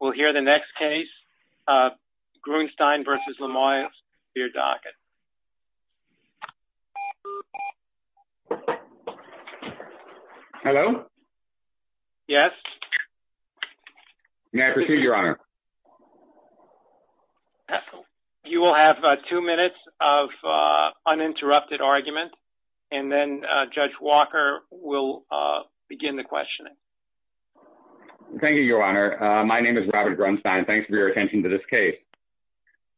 We'll hear the next case, Grunstein v. Lamoille Superior Docket. Hello? Yes. May I proceed, Your Honor? You will have two minutes of uninterrupted argument and then Judge Walker will begin the questioning. Thank you, Your Honor. My name is Robert Grunstein. Thanks for your attention to this case.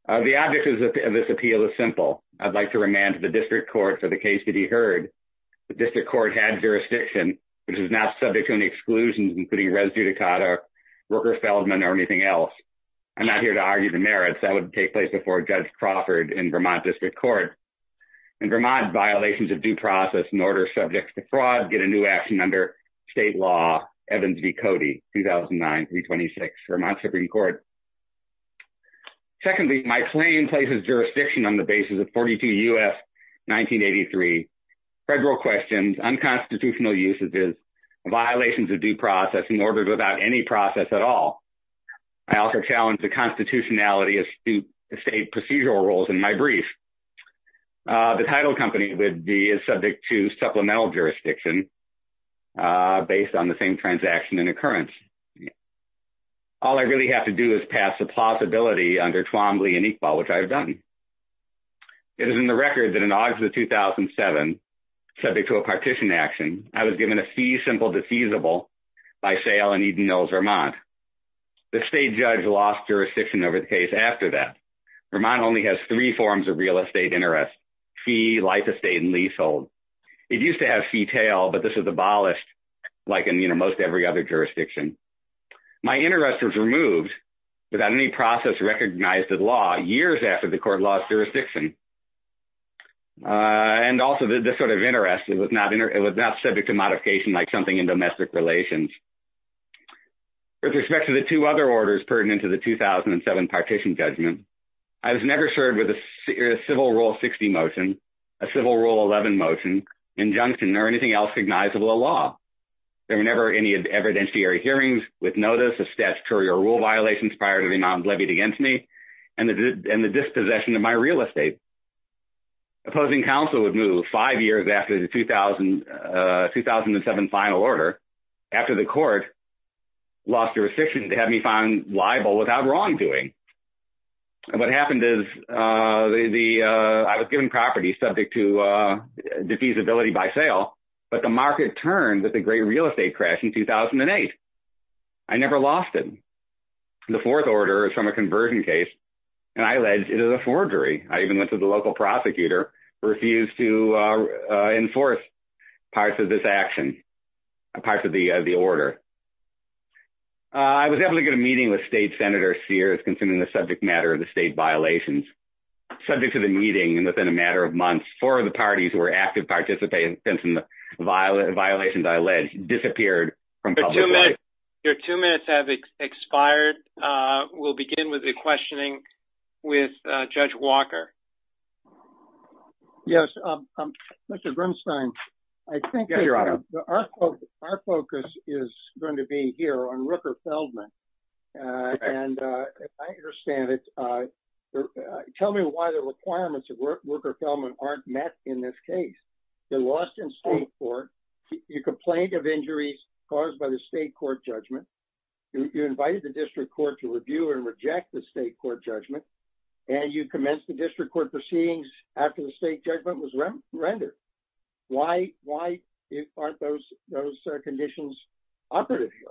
The object of this appeal is simple. I'd like to remand to the District Court for the case to be heard. The District Court had jurisdiction, which is now subject to any exclusions, including res judicata, worker felony, or anything else. I'm not here to argue the merits. That would take place before Judge Crawford in Vermont District Court. In Vermont, violations of due process in order subject to fraud get a new action under state law, Evans v. Cody, 2009-326, Vermont Supreme Court. Secondly, my claim places jurisdiction on the basis of 42 U.S. 1983, federal questions, unconstitutional usages, violations of due process in order without any process at all. I also challenge the constitutionality of state procedural rules in my brief. The title company would be subject to supplemental jurisdiction based on the same transaction and occurrence. All I really have to do is pass the plausibility under Twombly and Iqbal, which I've done. It is in the record that in August of 2007, subject to a partition action, I was given a fee simple defeasible by sale in Eden Hills, Vermont. The state judge lost jurisdiction over the case after that. Vermont only has three forms of real estate interest, fee, life estate, and leasehold. It used to have fee tail, but this was abolished like in most every other jurisdiction. My interest was removed without any process recognized as law years after the court lost jurisdiction. And also the sort of interest, it was not subject to modification like something in domestic relations. With respect to the two other orders pertinent to the 2007 partition judgment, I was never served with a civil rule 60 motion, a civil rule 11 motion, injunction, or anything else recognizable a law. There were never any evidentiary hearings with notice of statutory or rule violations prior to the amount levied against me and the dispossession of my real estate. Opposing counsel would move five years after the 2007 final order after the court lost jurisdiction to have me found liable without wrongdoing. What happened is I was given property subject to defeasibility by sale, but the market turned that the great real estate crash in 2008. I never lost it. The fourth order is from a conversion case, and I alleged it is a forgery. I even went to the local prosecutor, refused to enforce parts of this action, parts of the order. I was able to get a meeting with State Senator Sears concerning the subject matter of the state violations. Subject to the meeting, and within a matter of months, four of the parties were active participants in the violations I alleged disappeared from public life. Your two minutes have expired. We'll begin with the questioning with Judge Walker. Mr. Grimstein, I think our focus is going to be here on Rooker Feldman, and I understand it. Tell me why the requirements of Rooker Feldman aren't met in this case. They're lost in state court. You complain of injuries caused by the state court judgment. You invited the district court to review and reject the state court judgment, and you commenced the district court proceedings after the state judgment was rendered. Why aren't those conditions operative here?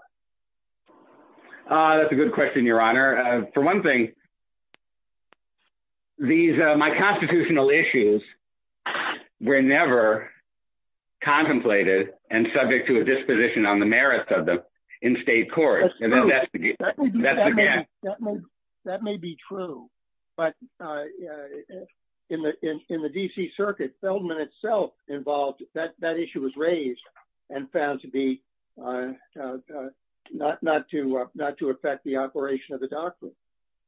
That's a good question, Your Honor. Your Honor, for one thing, my constitutional issues were never contemplated and subject to a disposition on the merits of them in state court. That's true. That may be true. But in the D.C. circuit, Feldman itself involved, that issue was raised and found to be not to affect the operation of the doctrine.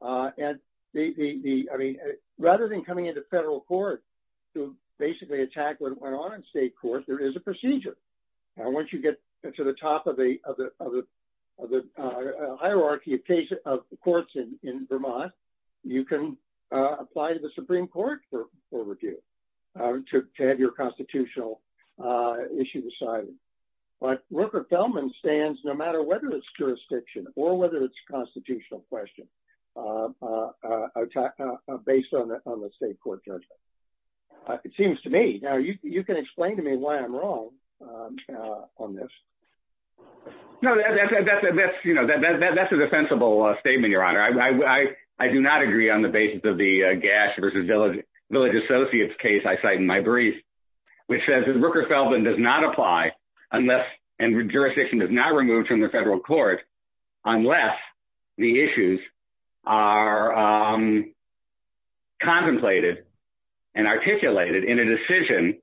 And the, I mean, rather than coming into federal court to basically attack what went on in state court, there is a procedure. Once you get to the top of the hierarchy of courts in Vermont, you can apply to the Supreme Court for review to have your constitutional issue decided. But Rooker Feldman stands no matter whether it's jurisdiction or whether it's a constitutional question based on the state court judgment. It seems to me, you can explain to me why I'm wrong on this. No, that's a defensible statement, Your Honor. I do not agree on the basis of the Gash versus Village Associates case I cite in my brief, which says that Rooker Feldman does not apply unless and jurisdiction is not removed from the federal court unless the issues are contemplated and articulated in a decision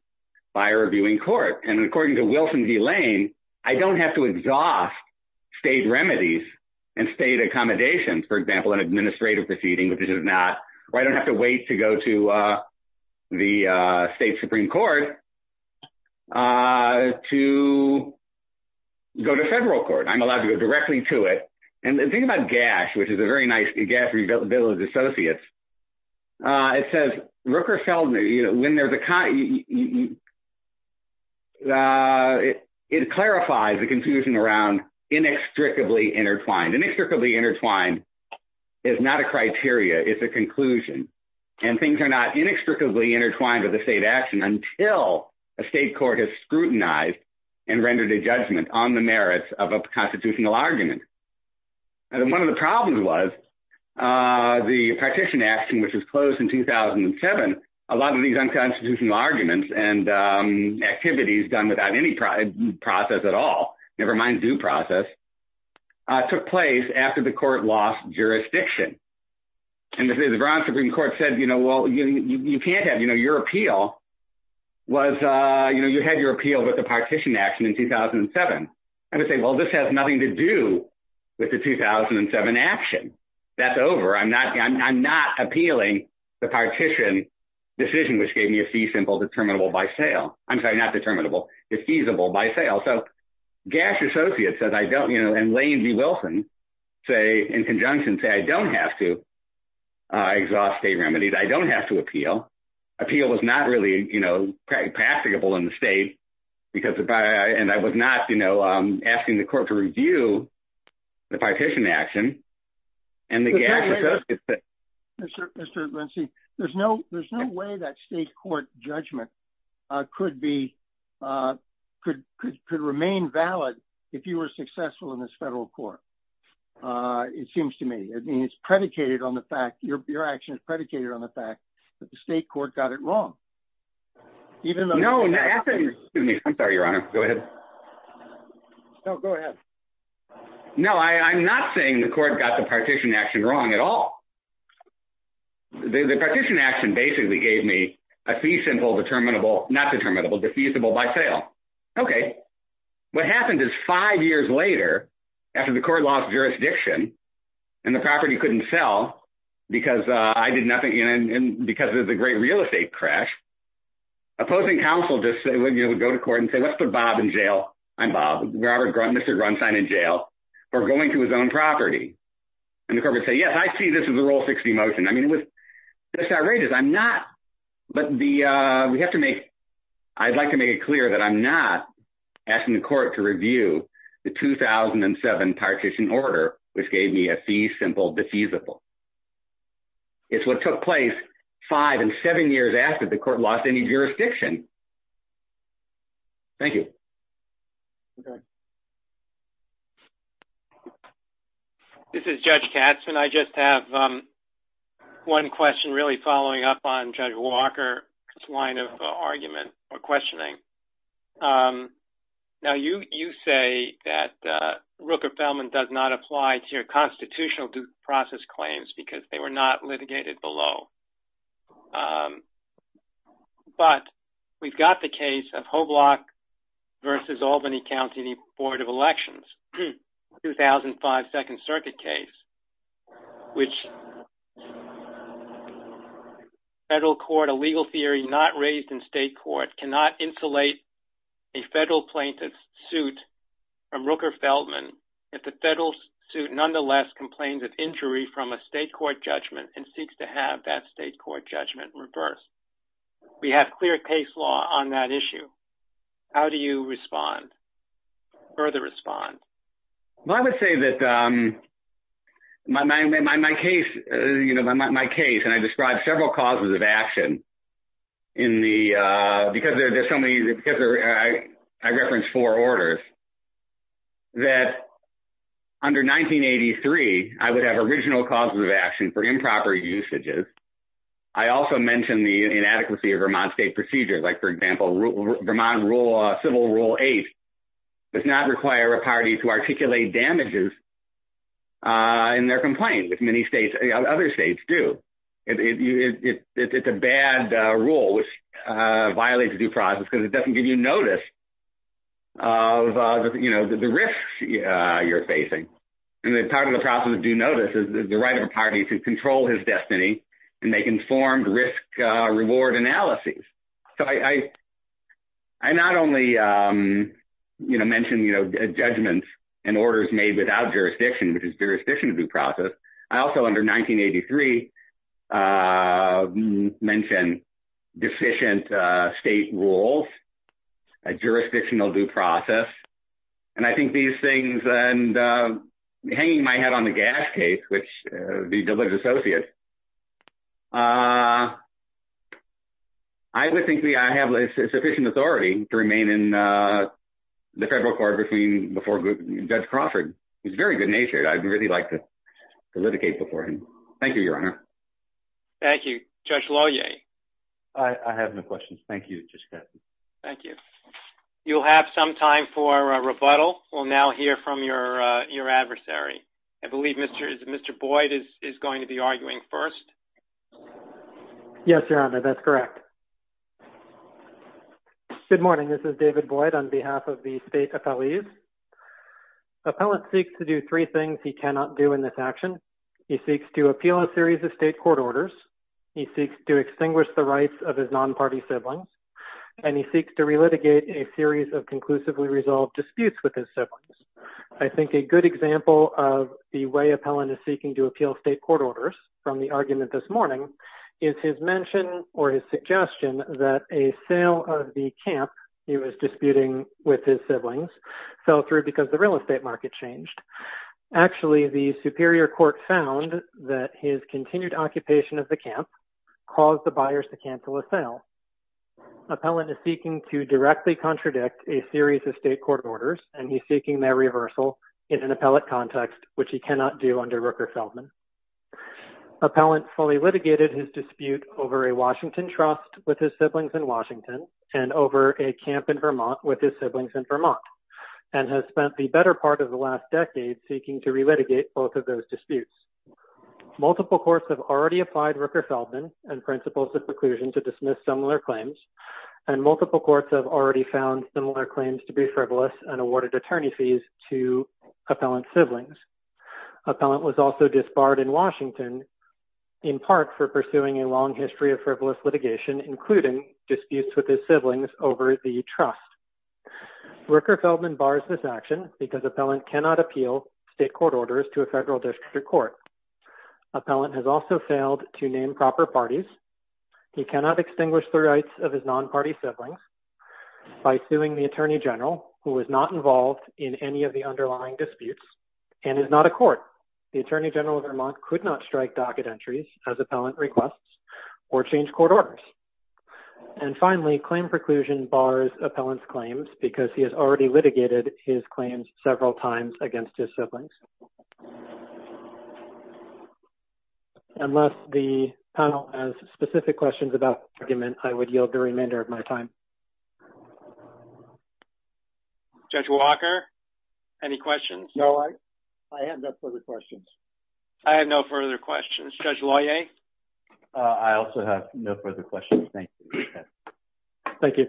by a reviewing court. And according to Wilson v. Lane, I don't have to exhaust state remedies and state accommodations, for example, an administrative proceeding, which is not, or I don't have to wait to go to the state Supreme Court to go to federal court. I'm allowed to go directly to it. And think about Gash, which is a very nice Gash versus Village Associates. It says, Rooker Feldman, it clarifies the confusion around inextricably intertwined. Inextricably intertwined is not a criteria, it's a conclusion. And things are not inextricably intertwined with the state action until a state court has scrutinized and rendered a judgment on the merits of a constitutional argument. And one of the problems was the partition action, which was closed in 2007, a lot of these unconstitutional arguments and activities done without any process at all, nevermind due process, took place after the court lost jurisdiction. And the Veron Supreme Court said, you know, well, you can't have, you know, your appeal was, you know, you had your appeal with the partition action in 2007. I would say, well, this has nothing to do with the 2007 action. That's over. I'm not appealing the partition decision, which gave me a fee simple determinable by sale. I'm sorry, not determinable, it's feasible by sale. So, Gash Associates said, I don't, you know, and Lane v. Wilson say, in conjunction say, I don't have to exhaust state remedies, I don't have to appeal. Appeal was not really, you know, practicable in the state because, and I was not, you know, asking the court to review the partition action. And the gas. There's no, there's no way that state court judgment could be could could could remain valid. If you were successful in this federal court. It seems to me, I mean, it's predicated on the fact your actions predicated on the fact that the state court got it wrong. Even though no, no, I'm sorry, your honor. Go ahead. No, go ahead. No, I'm not saying the court got the partition action wrong at all. The partition action basically gave me a fee simple determinable not determinable defeasible by sale. Okay. What happened is five years later, after the court lost jurisdiction, and the property couldn't sell, because I did nothing and because of the great real estate crash opposing counsel just say when you would go to court and say let's put Bob in jail. I'm Bob Robert Grunt Mr Grunstein in jail, or going to his own property. And the corporate say yes I see this as a role 60 motion I mean it was outrageous I'm not, but the, we have to make. I'd like to make it clear that I'm not asking the court to review the 2007 partition order, which gave me a fee simple defeasible. It's what took place, five and seven years after the court lost any jurisdiction. Thank you. Okay. This is Judge Katz and I just have one question really following up on Judge Walker line of argument or questioning. Now you, you say that Rooker Feldman does not apply to your constitutional due process claims because they were not litigated below. But we've got the case of whole block versus Albany County Board of Elections 2005 Second Circuit case, which federal court a legal theory not raised in state court cannot insulate a federal plaintiff suit from Rooker Feldman. If the federal suit nonetheless complains of injury from a state court judgment and seeks to have that state court judgment reverse. We have clear case law on that issue. How do you respond. Further respond. Well, I would say that my case, you know, my case and I described several causes of action in the, because there's so many, I referenced four orders that under 1983, I would have original causes of action for improper usages. I also mentioned the inadequacy of Vermont state procedures, like for example, Vermont Civil Rule 8 does not require a party to articulate damages in their complaint with many states, other states do. It's a bad rule which violates due process because it doesn't give you notice of, you know, the risks you're facing. And part of the process of due notice is the right of a party to control his destiny and make informed risk reward analyses. So I, I not only, you know, mentioned, you know, judgments and orders made without jurisdiction which is jurisdiction due process. I also under 1983 mentioned deficient state rules, jurisdictional due process. And I think these things and hanging my head on the gas case which the associate. I would think the I have sufficient authority to remain in the federal court between before good judge Crawford is very good natured I'd really like to litigate before him. Thank you, Your Honor. Thank you, Judge Lohier. I have no questions. Thank you. Thank you. You'll have some time for rebuttal. We'll now hear from your, your adversary. I believe Mr. is Mr. Boyd is going to be arguing first. Yes, Your Honor. That's correct. Good morning. This is David Boyd on behalf of the state. Appellate seeks to do three things he cannot do in this action. He seeks to appeal a series of state court orders. He seeks to extinguish the rights of his non party sibling, and he seeks to relitigate a series of conclusively resolved disputes with his siblings. I think a good example of the way appellant is seeking to appeal state court orders from the argument this morning is his mention, or his suggestion that a sale of the camp. He was disputing with his siblings fell through because the real estate market changed. Actually, the Superior Court found that his continued occupation of the camp caused the buyers to cancel a sale. Appellant is seeking to directly contradict a series of state court orders, and he's seeking their reversal in an appellate context, which he cannot do under Rooker Feldman. Appellant fully litigated his dispute over a Washington trust with his siblings in Washington, and over a camp in Vermont with his siblings in Vermont, and has spent the better part of the last decade seeking to relitigate both of those disputes. Multiple courts have already applied Rooker Feldman and principles of preclusion to dismiss similar claims, and multiple courts have already found similar claims to be frivolous and awarded attorney fees to appellant siblings. Appellant was also disbarred in Washington, in part for pursuing a long history of frivolous litigation, including disputes with his siblings over the trust. Rooker Feldman bars this action because appellant cannot appeal state court orders to a federal district court. Appellant has also failed to name proper parties. He cannot extinguish the rights of his non-party siblings by suing the Attorney General, who was not involved in any of the underlying disputes, and is not a court. The Attorney General of Vermont could not strike docket entries as appellant requests or change court orders. And finally, claim preclusion bars appellant's claims because he has already litigated his claims several times against his siblings. Unless the panel has specific questions about the argument, I would yield the remainder of my time. Judge Walker, any questions? No, I have no further questions. I have no further questions. Judge Loyer? I also have no further questions. Thank you. Thank you.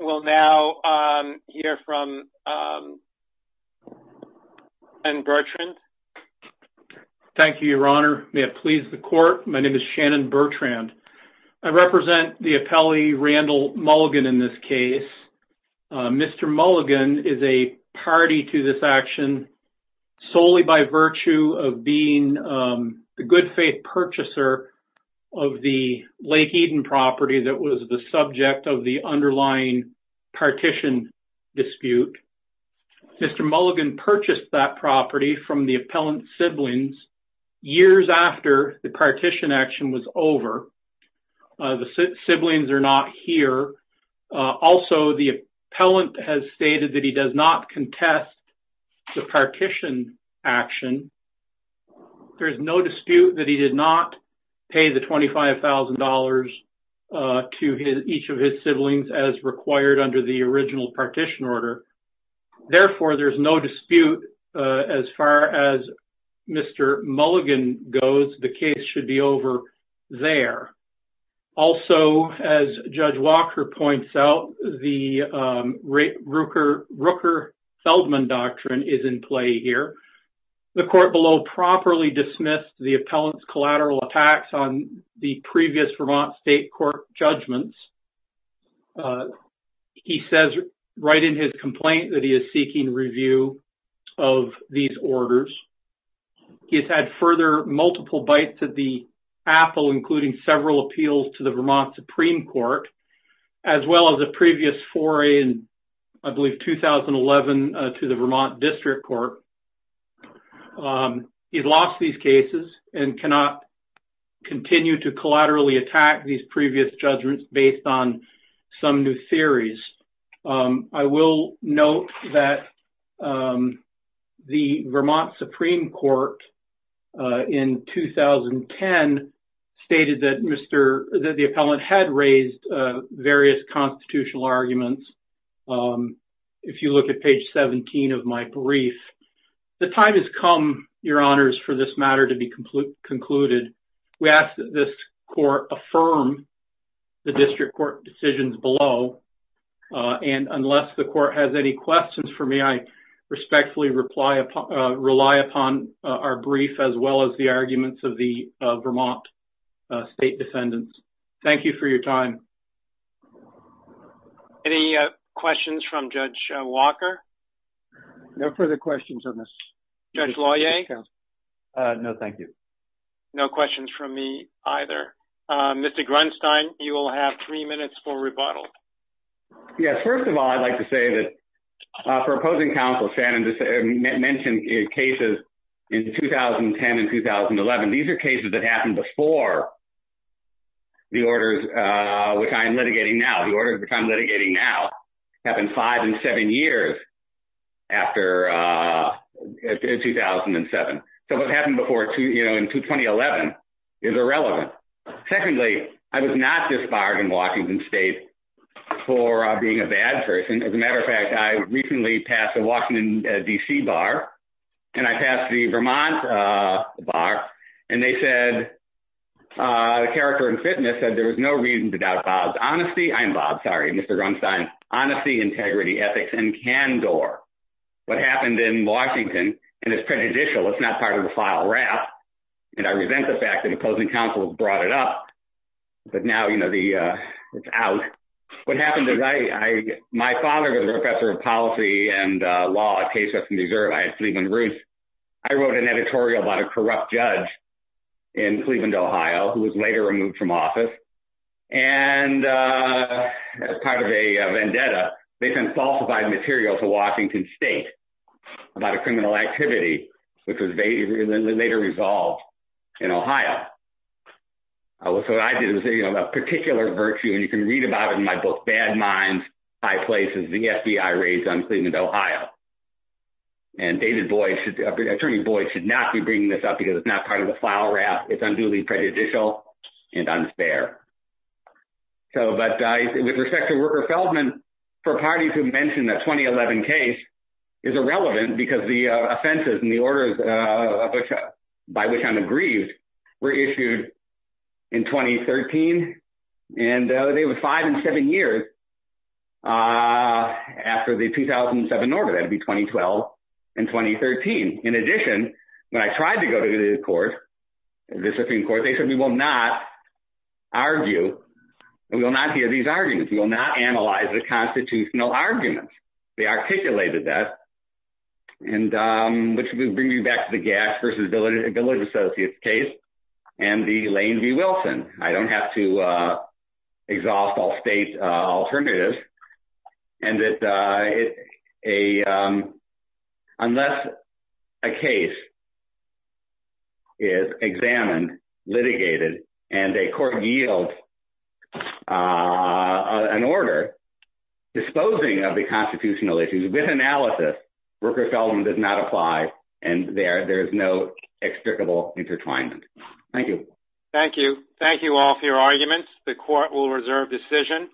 We will now hear from Shannon Bertrand. Thank you, Your Honor. May it please the court, my name is Shannon Bertrand. I represent the appellee, Randall Mulligan, in this case. Mr. Mulligan is a party to this action solely by virtue of being the good faith purchaser of the Lake Eden property that was the subject of the underlying partition dispute. Mr. Mulligan purchased that property from the appellant siblings years after the partition action was over. The siblings are not here. Also, the appellant has stated that he does not contest the partition action. There is no dispute that he did not pay the $25,000 to each of his siblings as required under the original partition order. Therefore, there is no dispute as far as Mr. Mulligan goes. The case should be over there. Also, as Judge Walker points out, the Rooker-Feldman doctrine is in play here. The court below properly dismissed the appellant's collateral attacks on the previous Vermont State Court judgments. He says right in his complaint that he is seeking review of these orders. He has had further multiple bites at the apple, including several appeals to the Vermont Supreme Court, as well as a previous foray in, I believe, 2011 to the Vermont District Court. He has lost these cases and cannot continue to collaterally attack these previous judgments based on some new theories. I will note that the Vermont Supreme Court in 2010 stated that the appellant had raised various constitutional arguments. If you look at page 17 of my brief, the time has come, Your Honors, for this matter to be concluded. We ask that this court affirm the District Court decisions below. And unless the court has any questions for me, I respectfully rely upon our brief as well as the arguments of the Vermont State defendants. Thank you for your time. Any questions from Judge Walker? No further questions on this. Judge Lauier? No, thank you. No questions from me either. Mr. Grunstein, you will have three minutes for rebuttal. Yes. First of all, I'd like to say that for opposing counsel Shannon mentioned cases in 2010 and 2011. These are cases that happened before the orders which I am litigating now. The orders which I'm litigating now happened five and seven years after 2007. So what happened before, you know, in 2011 is irrelevant. Secondly, I was not disbarred in Washington State for being a bad person. As a matter of fact, I recently passed a Washington, D.C. bar, and I passed the Vermont bar, and they said, a character in fitness said there was no reason to doubt Bob's honesty. I'm Bob, sorry, Mr. Grunstein. Honesty, integrity, ethics, and candor. What happened in Washington, and it's prejudicial. It's not part of the file wrap. And I resent the fact that opposing counsel brought it up. But now, you know, it's out. What happened is my father was a professor of policy and law at Case Weston Reserve. I had Cleveland roots. I wrote an editorial about a corrupt judge in Cleveland, Ohio, who was later removed from office. And as part of a vendetta, they sent falsified material to Washington State about a criminal activity which was later resolved in Ohio. So what I did was a particular virtue, and you can read about it in my book, Bad Minds, High Places, the FBI raids on Cleveland, Ohio. And David Boyd, Attorney Boyd, should not be bringing this up because it's not part of the file wrap. It's unduly prejudicial and unfair. So but with respect to Worker-Feldman, for parties who mentioned that 2011 case is irrelevant because the offenses and the orders by which I'm aggrieved were issued in 2013. And they were five and seven years after the 2007 order. That would be 2012 and 2013. In addition, when I tried to go to the court, the Supreme Court, they said we will not argue and we will not hear these arguments. We will not analyze the constitutional arguments. They articulated that, which brings me back to the Gass versus Billings Associates case and the Lane v. Wilson. I don't have to exhaust all state alternatives. And unless a case is examined, litigated, and a court yields an order disposing of the constitutional issues with analysis, Worker-Feldman does not apply. And there is no extricable intertwinement. Thank you. Thank you. Thank you all for your arguments. The court will reserve decision.